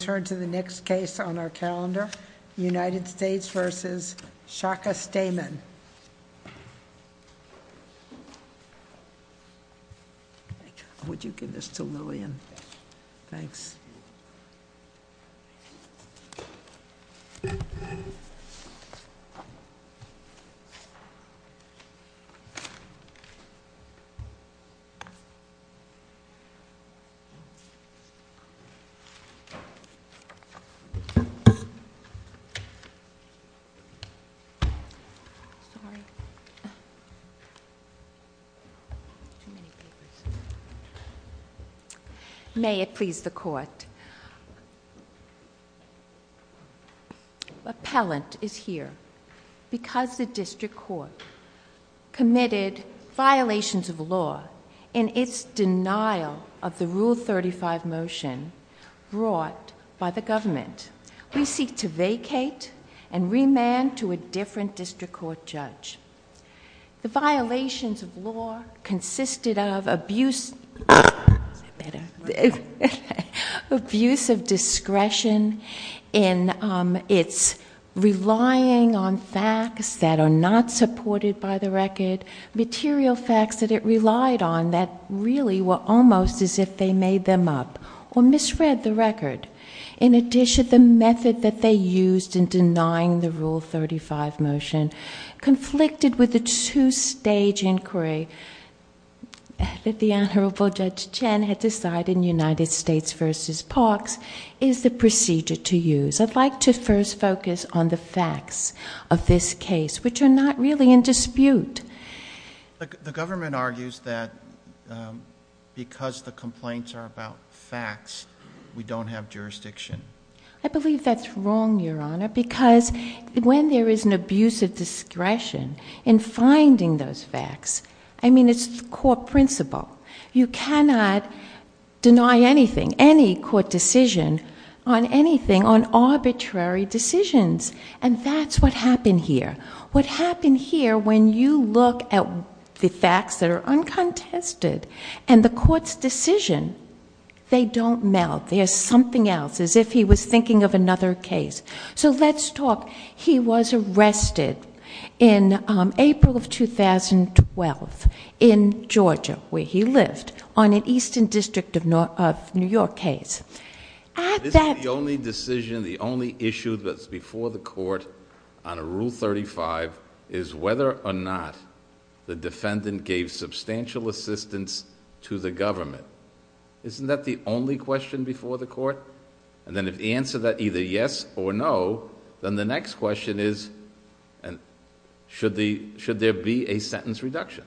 Turn to the next case on our calendar, United States v. Shaka Stamen. Would you give this to Lillian? Thanks. May it please the Court. Appellant is here because the District Court committed violations of law in its denial of the Rule 35 motion brought by the government. We seek to vacate and remand to a different District Court judge. The violations of law consisted of abuse of discretion in its relying on facts that are not supported by the record, material facts that it relied on that really were almost as if they made them up or misread the record. In addition, the method that they used in denying the Rule 35 motion, conflicted with the two-stage inquiry that the Honorable Judge Chen had decided in United States v. Parks, is the procedure to use. I'd like to first focus on the facts of this case, which are not really in dispute. The government argues that because the complaints are about facts, we don't have jurisdiction. I believe that's wrong, Your Honor, because when there is an abuse of discretion in finding those facts, I mean, it's the court principle. You cannot deny anything, any court decision on anything, on arbitrary decisions. And that's what happened here. What happened here, when you look at the facts that are uncontested and the court's decision, they don't meld. There's something else, as if he was thinking of another case. So let's talk. He was arrested in April of 2012 in Georgia, where he lived, on an Eastern District of New York case. This is the only decision, the only issue that's before the court on a Rule 35, is whether or not the defendant gave substantial assistance to the government. Isn't that the only question before the court? And then if the answer is either yes or no, then the next question is, should there be a sentence reduction?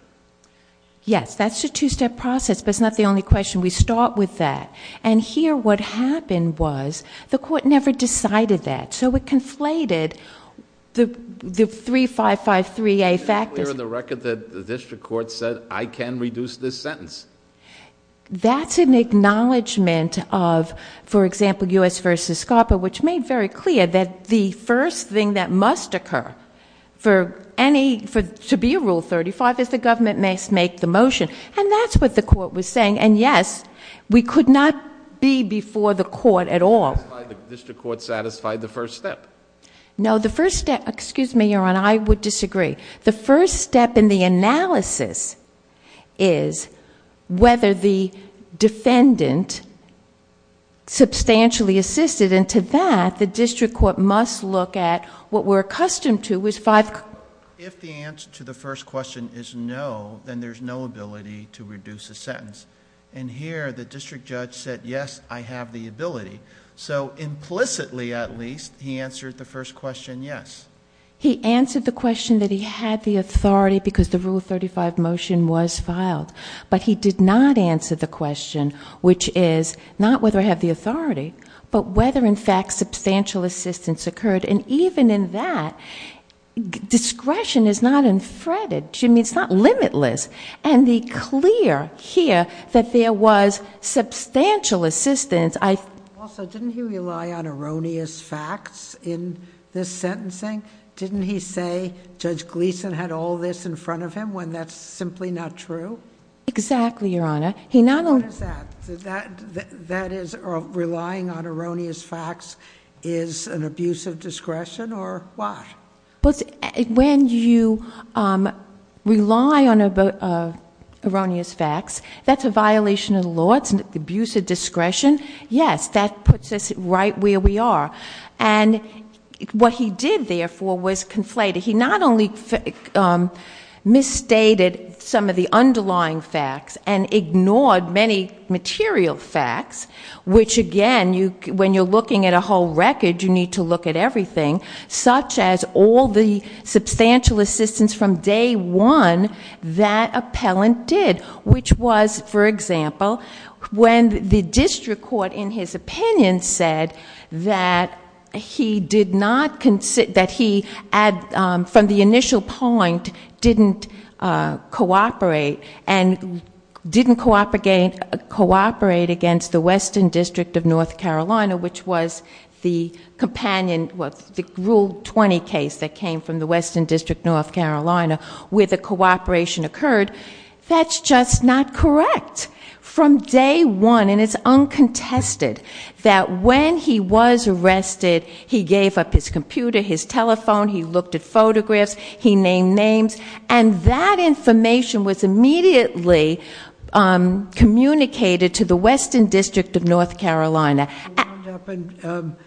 Yes, that's a two-step process, but it's not the only question. We start with that. And here, what happened was, the court never decided that. So it conflated the 3553A factors. It's not clear on the record that the district court said, I can reduce this sentence. That's an acknowledgment of, for example, U.S. v. SCARPA, which made very clear that the first thing that must occur for any, to be a Rule 35, is the government must make the motion. And that's what the court was saying. And yes, we could not be before the court at all. The district court satisfied the first step. No, the first step, excuse me, Your Honor, I would disagree. The first step in the analysis is whether the defendant substantially assisted. And to that, the district court must look at what we're accustomed to, was five... If the answer to the first question is no, then there's no ability to reduce a sentence. And here, the district judge said, yes, I have the ability. So implicitly, at least, he answered the first question, yes. He answered the question that he had the authority, because the Rule 35 motion was filed. But he did not answer the question, which is, not whether I have the authority, but whether in fact substantial assistance occurred. And even in that, discretion is not infreded. I mean, it's not limitless. And the clear here that there was substantial assistance... Also, didn't he rely on erroneous facts in this sentencing? Didn't he say Judge Gleeson had all this in front of him, when that's simply not true? What is that? That is, relying on erroneous facts is an abuse of discretion, or what? When you rely on erroneous facts, that's a violation of the law. It's an abuse of discretion. Yes, that puts us right where we are. And what he did, therefore, was conflate it. He not only misstated some of the underlying facts and ignored many material facts, which again, when you're looking at a whole record, you need to look at everything, such as all the substantial assistance from day one that appellant did, which was, for example, when the district court, in his opinion, said that he did not consider... that he, for example, from the initial point, didn't cooperate and didn't cooperate against the Western District of North Carolina, which was the companion... the Rule 20 case that came from the Western District of North Carolina, where the cooperation occurred. That's just not correct. From day one, and it's uncontested, that when he was arrested, he gave up his telephone, he looked at photographs, he named names, and that information was immediately communicated to the Western District of North Carolina... They wound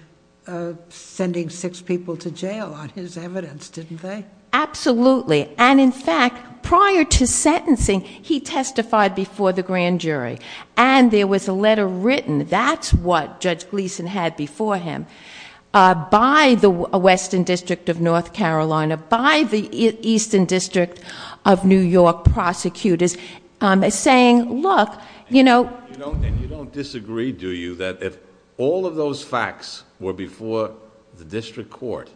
up sending six people to jail on his evidence, didn't they? Absolutely. And in fact, prior to sentencing, he testified before the grand jury. And there was a letter written, that's what Judge Gleeson had before him, by the Western District of North Carolina, by the Eastern District of New York prosecutors, saying, look... And you don't disagree, do you, that if all of those facts were before the district court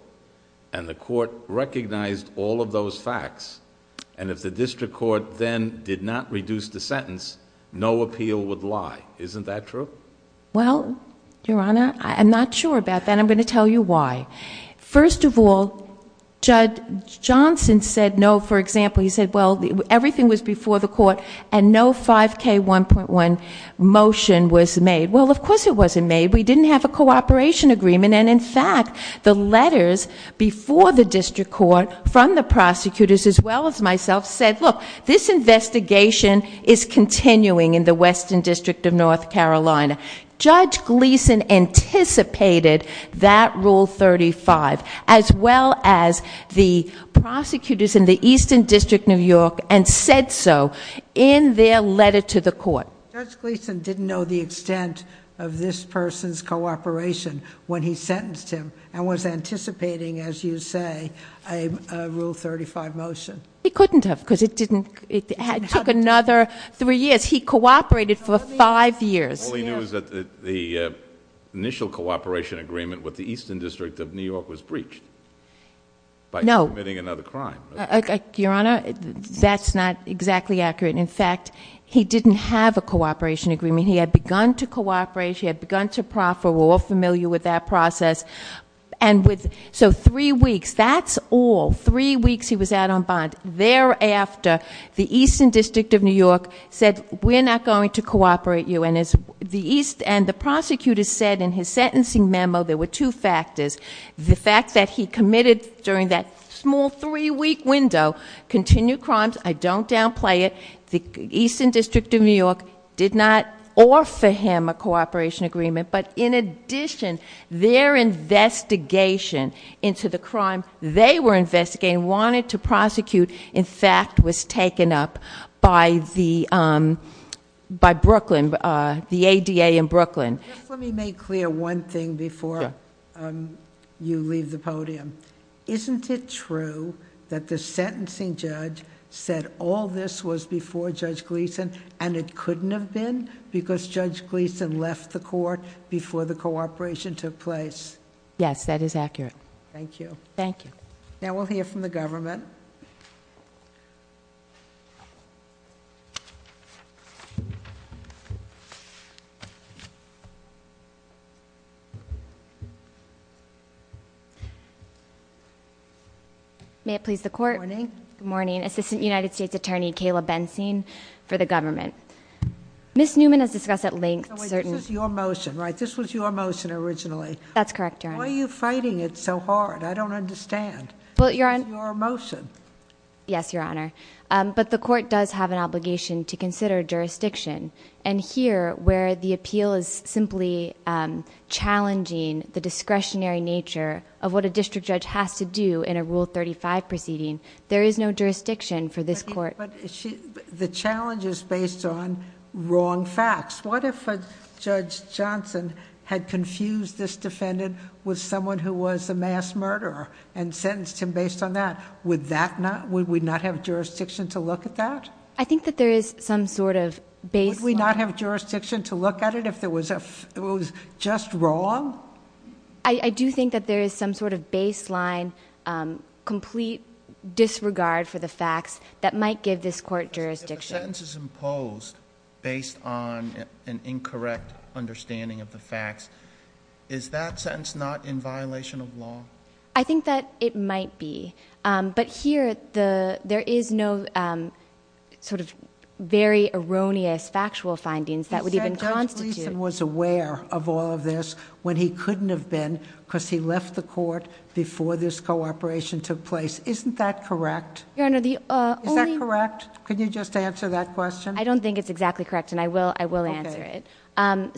and the court recognized all of those facts, and if the district court then did not reduce the sentence, no appeal would lie. Isn't that true? Well, Your Honor, I'm not sure about that. I'm going to tell you why. First of all, Judge Johnson said no. For example, he said, well, everything was before the court and no 5K1.1 motion was made. Well, of course it wasn't made. We didn't have a cooperation agreement. And in fact, the letters before the district court from the prosecutors, as well as myself, said, look, this investigation is continuing in the Western District of North Carolina. Judge Gleeson anticipated that Rule 35, as well as the prosecutors in the Eastern District of New York, and said so in their letter to the court. Judge Gleeson didn't know the extent of this person's cooperation when he sentenced him and was anticipating, as you say, a Rule 35 motion. He couldn't have, because it took another three years. He cooperated for five years. All he knew was that the initial cooperation agreement with the Eastern District of New York was breached by committing another crime. No. Your Honor, that's not exactly accurate. In fact, he didn't have a cooperation agreement. He had begun to cooperate. He had begun to proffer. We're all familiar with that process. And so three weeks, that's all, three weeks he was out on bond. Thereafter, the Eastern District of New York said, we're not going to cooperate you. And the prosecutor said in his sentencing memo, there were two factors. The fact that he committed during that small three week window, continued crimes, I don't downplay it. The Eastern District of New York did not offer him a cooperation agreement. But in addition, their investigation into the crime they were investigating, wanted to prosecute, in fact, was taken up by the ADA in Brooklyn. Let me make clear one thing before you leave the podium. Isn't it true that the sentencing judge said all this was before Judge Gleeson and that it couldn't have been because Judge Gleeson left the court before the cooperation took place? Yes, that is accurate. Thank you. Thank you. Now we'll hear from the government. May it please the court. Good morning. Good morning, Assistant United States Attorney Kayla Bensing for the government. Ms. Newman has discussed at length certain- This is your motion, right? This was your motion originally. That's correct, Your Honor. Why are you fighting it so hard? I don't understand. Well, Your Honor- It's your motion. Yes, Your Honor. But the court does have an obligation to consider jurisdiction. And here, where the appeal is simply challenging the discretionary nature of what a district judge has to do in a Rule 35 proceeding, there is no jurisdiction for this court- But the challenge is based on wrong facts. What if a Judge Johnson had confused this defendant with someone who was a mass murderer and sentenced him based on that? Would we not have jurisdiction to look at that? I think that there is some sort of baseline- Would we not have jurisdiction to look at it if it was just wrong? I do think that there is some sort of baseline, complete disregard for the facts that might give this court jurisdiction. If a sentence is imposed based on an incorrect understanding of the facts, is that sentence not in violation of law? I think that it might be. But here, there is no sort of very erroneous factual findings that would even constitute- When he couldn't have been because he left the court before this cooperation took place. Isn't that correct? Your Honor, the only- Is that correct? Could you just answer that question? I don't think it's exactly correct, and I will answer it.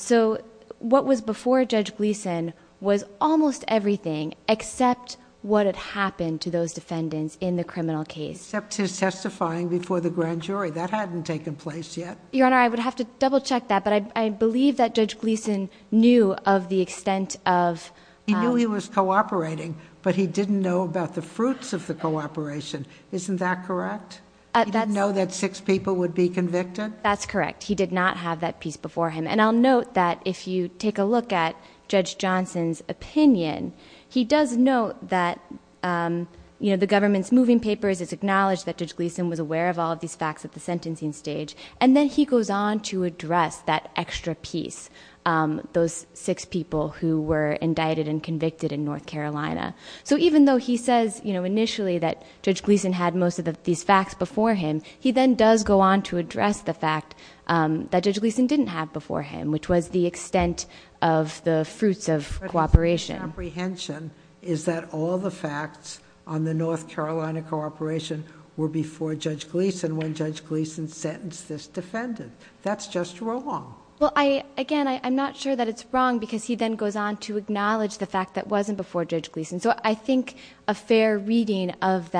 So, what was before Judge Gleeson was almost everything except what had happened to those defendants in the criminal case. Except his testifying before the grand jury. That hadn't taken place yet. Your Honor, I would have to double check that, but I believe that Judge Gleeson knew of the extent of- He knew he was cooperating, but he didn't know about the fruits of the cooperation. Isn't that correct? He didn't know that six people would be convicted? That's correct. He did not have that piece before him. And I'll note that if you take a look at Judge Johnson's opinion, he does note that the government's moving papers has acknowledged that Judge Gleeson was aware of all of these facts at the sentencing stage. And then he goes on to address that extra piece, those six people who were indicted and convicted in North Carolina. So even though he says, initially, that Judge Gleeson had most of these facts before him, he then does go on to address the fact that Judge Gleeson didn't have before him, which was the extent of the fruits of cooperation. My apprehension is that all the facts on the North Carolina cooperation were before Judge Gleeson when Judge Gleeson sentenced this defendant. That's just wrong. Well, again, I'm not sure that it's wrong because he then goes on to acknowledge the fact that it wasn't before Judge Gleeson. So I think a fair reading of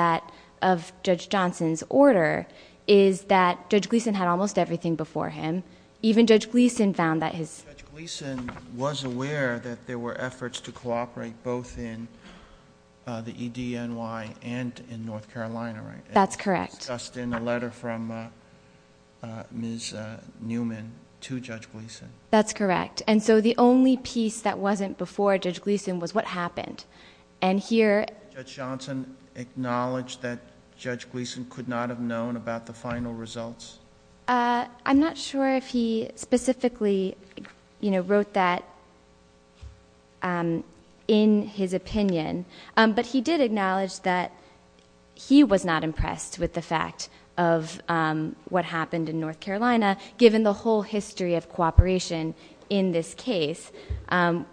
Judge Johnson's order is that Judge Gleeson had almost everything before him. Even Judge Gleeson found that his- Cooperate both in the EDNY and in North Carolina, right? That's correct. Just in a letter from Ms. Newman to Judge Gleeson. That's correct. And so the only piece that wasn't before Judge Gleeson was what happened. And here- Did Judge Johnson acknowledge that Judge Gleeson could not have known about the final results? I'm not sure if he specifically wrote that in his opinion. But he did acknowledge that he was not impressed with the fact of what happened in North Carolina, given the whole history of cooperation in this case,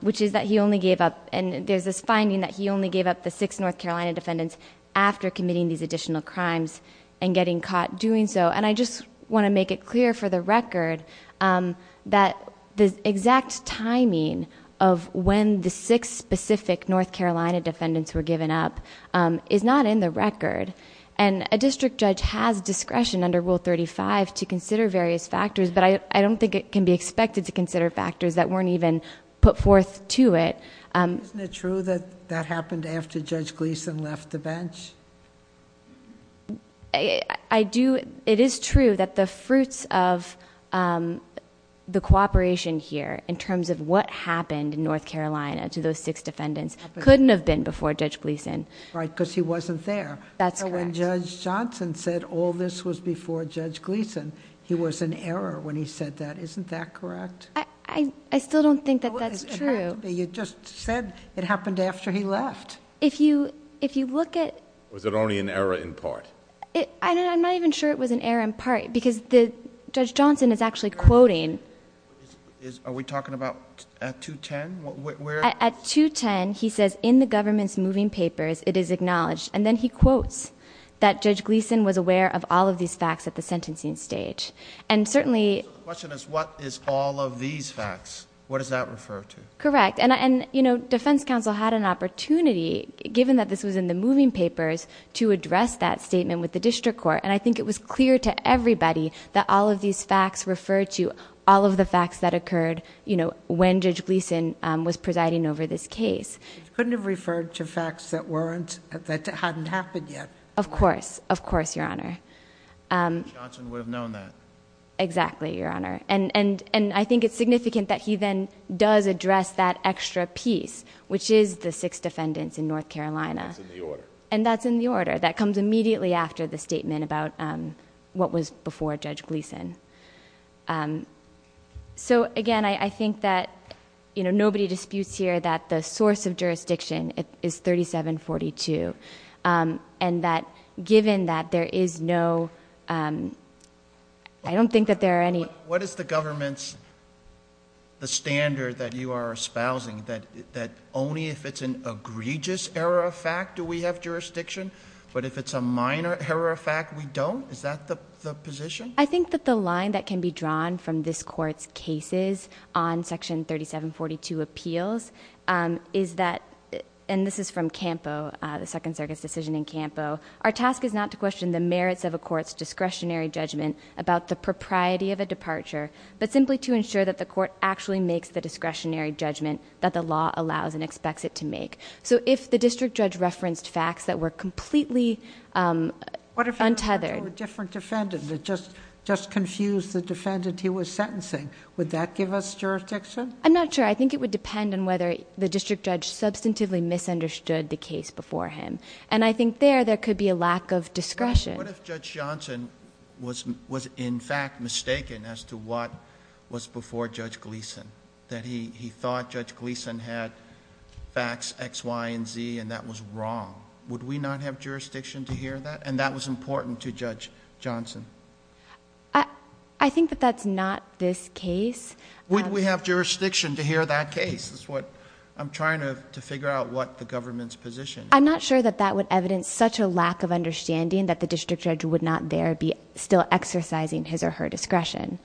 which is that he only gave up. And there's this finding that he only gave up the six North Carolina defendants after committing these additional crimes and getting caught doing so. And I just want to make it clear for the record that the exact timing of when the six specific North Carolina defendants were given up is not in the record. And a district judge has discretion under Rule 35 to consider various factors, but I don't think it can be expected to consider factors that weren't even put forth to it. Isn't it true that that happened after Judge Gleeson left the bench? I do, it is true that the fruits of the cooperation here in terms of what happened in North Carolina to those six defendants couldn't have been before Judge Gleeson. Right, because he wasn't there. That's correct. When Judge Johnson said all this was before Judge Gleeson, he was in error when he said that. Isn't that correct? I still don't think that that's true. You just said it happened after he left. If you look at- Was it only an error in part? I'm not even sure it was an error in part, because Judge Johnson is actually quoting- Are we talking about at 210, where- At 210, he says, in the government's moving papers, it is acknowledged. And then he quotes that Judge Gleeson was aware of all of these facts at the sentencing stage. And certainly- The question is, what is all of these facts? What does that refer to? Correct, and defense counsel had an opportunity, given that this was in the moving papers, to address that statement with the district court. And I think it was clear to everybody that all of these facts referred to all of the facts that occurred when Judge Gleeson was presiding over this case. Couldn't have referred to facts that hadn't happened yet. Of course, of course, Your Honor. Johnson would have known that. Exactly, Your Honor. And I think it's significant that he then does address that extra piece, which is the six defendants in North Carolina. That's in the order. And that's in the order. That comes immediately after the statement about what was before Judge Gleeson. So again, I think that nobody disputes here that the source of jurisdiction is 3742. And that given that there is no, I don't think that there are any- What is the government's, the standard that you are espousing? That only if it's an egregious error of fact do we have jurisdiction? But if it's a minor error of fact, we don't? Is that the position? I think that the line that can be drawn from this court's cases on section 3742 appeals is that, and this is from Campo, the Second Circuit's decision in Campo. Our task is not to question the merits of a court's discretionary judgment about the propriety of a departure, but simply to ensure that the court actually makes the discretionary judgment that the law allows and expects it to make. So if the district judge referenced facts that were completely untethered- What if he referred to a different defendant that just confused the defendant he was sentencing? Would that give us jurisdiction? I'm not sure. I think it would depend on whether the district judge substantively misunderstood the case before him. And I think there, there could be a lack of discretion. What if Judge Johnson was in fact mistaken as to what was before Judge Gleeson? That he thought Judge Gleeson had facts X, Y, and Z, and that was wrong. Would we not have jurisdiction to hear that? And that was important to Judge Johnson. I think that that's not this case. Would we have jurisdiction to hear that case? That's what I'm trying to figure out what the government's position is. I'm not sure that that would evidence such a lack of understanding that the district judge would not there be still exercising his or her discretion.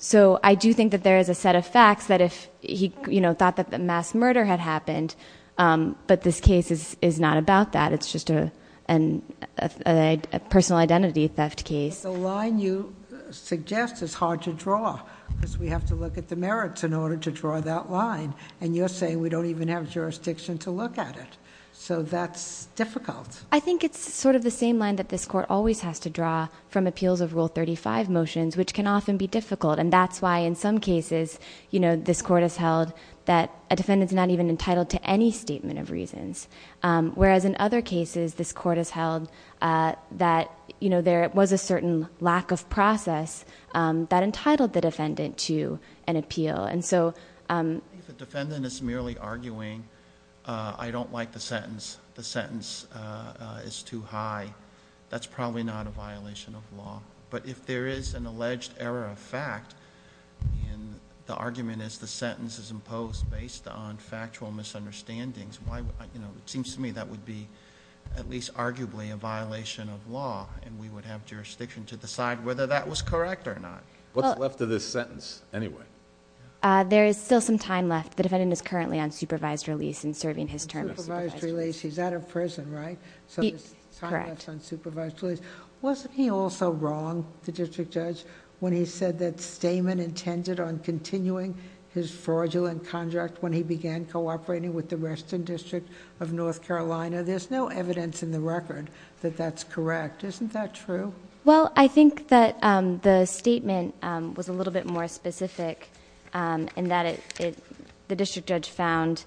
So I do think that there is a set of facts that if he thought that the mass murder had happened, but this case is not about that. It's just a personal identity theft case. The line you suggest is hard to draw, because we have to look at the merits in order to draw that line. And you're saying we don't even have jurisdiction to look at it, so that's difficult. I think it's sort of the same line that this court always has to draw from appeals of rule 35 motions, which can often be difficult. And that's why in some cases, this court has held that a defendant's not even entitled to any statement of reasons. Whereas in other cases, this court has held that there was a certain lack of process that entitled the defendant to an appeal. And so- If the defendant is merely arguing, I don't like the sentence. The sentence is too high. That's probably not a violation of law. But if there is an alleged error of fact, and the argument is the sentence is imposed based on factual misunderstandings, it seems to me that would be, at least arguably, a violation of law. And we would have jurisdiction to decide whether that was correct or not. What's left of this sentence, anyway? There is still some time left. The defendant is currently on supervised release and serving his term of supervised release. He's out of prison, right? So there's time left on supervised release. Wasn't he also wrong, the district judge, when he said that Stamen intended on continuing his fraudulent contract when he began cooperating with the Western District of North Carolina? There's no evidence in the record that that's correct. Isn't that true? Well, I think that the statement was a little bit more specific, in that the district judge found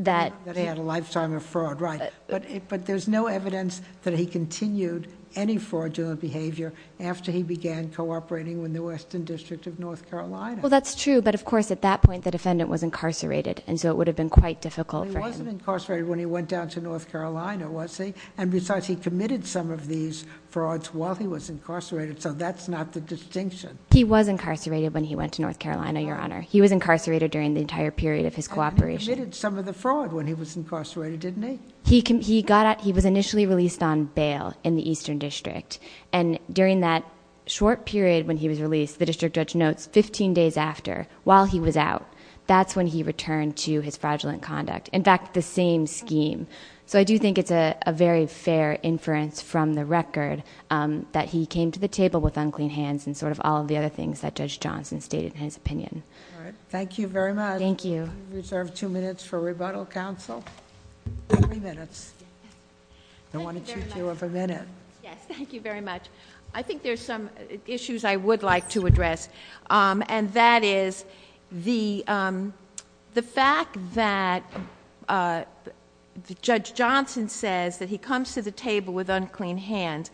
that- That he had a lifetime of fraud, right. But there's no evidence that he continued any fraudulent behavior after he began cooperating with the Western District of North Carolina. Well, that's true, but of course, at that point, the defendant was incarcerated, and so it would have been quite difficult for him. He wasn't incarcerated when he went down to North Carolina, was he? And besides, he committed some of these frauds while he was incarcerated, so that's not the distinction. He was incarcerated when he went to North Carolina, Your Honor. He was incarcerated during the entire period of his cooperation. And he committed some of the fraud when he was incarcerated, didn't he? He was initially released on bail in the Eastern District. And during that short period when he was released, the district judge notes 15 days after, while he was out. That's when he returned to his fraudulent conduct. In fact, the same scheme. So I do think it's a very fair inference from the record that he came to the table with unclean hands and sort of all of the other things that Judge Johnson stated in his opinion. All right, thank you very much. Thank you. We reserve two minutes for rebuttal, counsel. Two minutes. I wanted you to have a minute. Yes, thank you very much. I think there's some issues I would like to address. And that is the fact that Judge Johnson says that he comes to the table with unclean hands.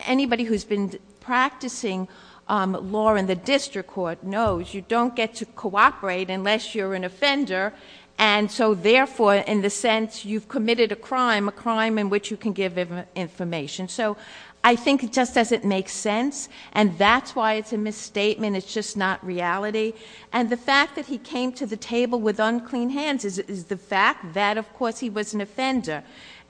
Anybody who's been practicing law in the district court knows you don't get to cooperate unless you're an offender. And so therefore, in the sense you've committed a crime, a crime in which you can give information. So I think it just doesn't make sense. And that's why it's a misstatement, it's just not reality. And the fact that he came to the table with unclean hands is the fact that, of course, he was an offender.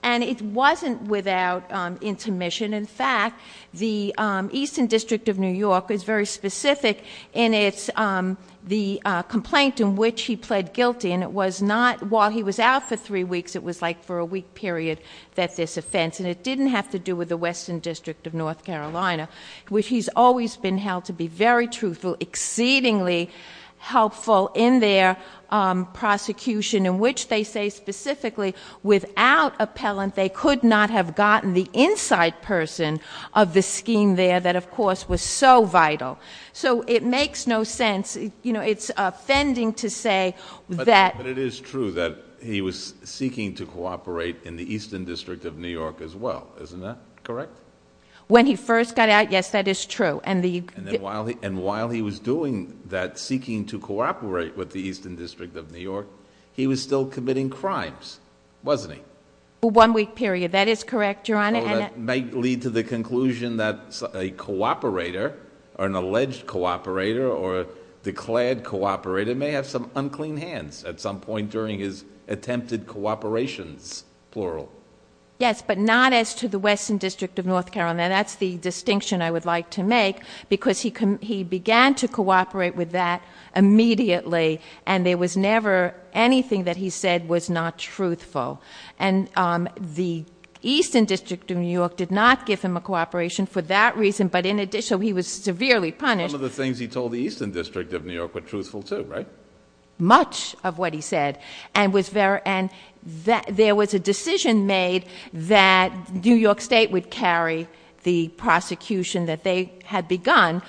And it wasn't without intermission. In fact, the Eastern District of New York is very specific in the complaint in which he pled guilty. And it was not, while he was out for three weeks, it was like for a week period that this offense. And it didn't have to do with the Western District of North Carolina, which he's always been held to be very truthful, exceedingly helpful in their prosecution. In which they say specifically, without appellant, they could not have gotten the inside person of the scheme there that, of course, was so vital. So it makes no sense, it's offending to say that- But it is true that he was seeking to cooperate in the Eastern District of New York as well, isn't that correct? When he first got out, yes, that is true. And the- And while he was doing that, seeking to cooperate with the Eastern District of New York, he was still committing crimes, wasn't he? And- Might lead to the conclusion that a cooperator, or an alleged cooperator, or a declared cooperator may have some unclean hands at some point during his attempted cooperations, plural. Yes, but not as to the Western District of North Carolina. That's the distinction I would like to make, because he began to cooperate with that immediately. And there was never anything that he said was not truthful. And the Eastern District of New York did not give him a cooperation for that reason. But in addition, he was severely punished. Some of the things he told the Eastern District of New York were truthful too, right? Much of what he said. And there was a decision made that New York State would carry the prosecution that they had begun.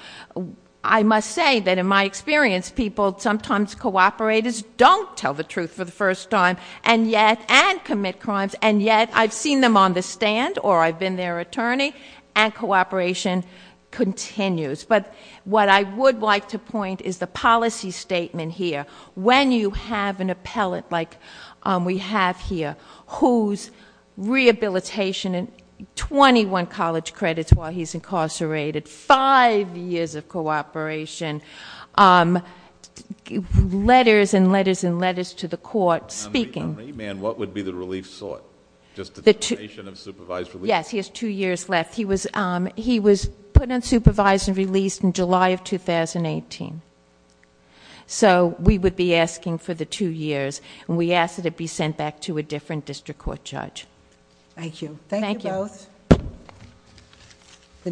I must say that in my experience, people sometimes cooperators don't tell the truth for the first time. And yet, and commit crimes, and yet, I've seen them on the stand, or I've been their attorney, and cooperation continues. But what I would like to point is the policy statement here. When you have an appellate like we have here, whose rehabilitation, and 21 college credits while he's incarcerated, five years of cooperation. Letters, and letters, and letters to the court, speaking. And what would be the relief sought? Just the determination of supervised relief. Yes, he has two years left. He was put on supervised and released in July of 2018. So we would be asking for the two years, and we ask that it be sent back to a different district court judge. Thank you. Thank you both.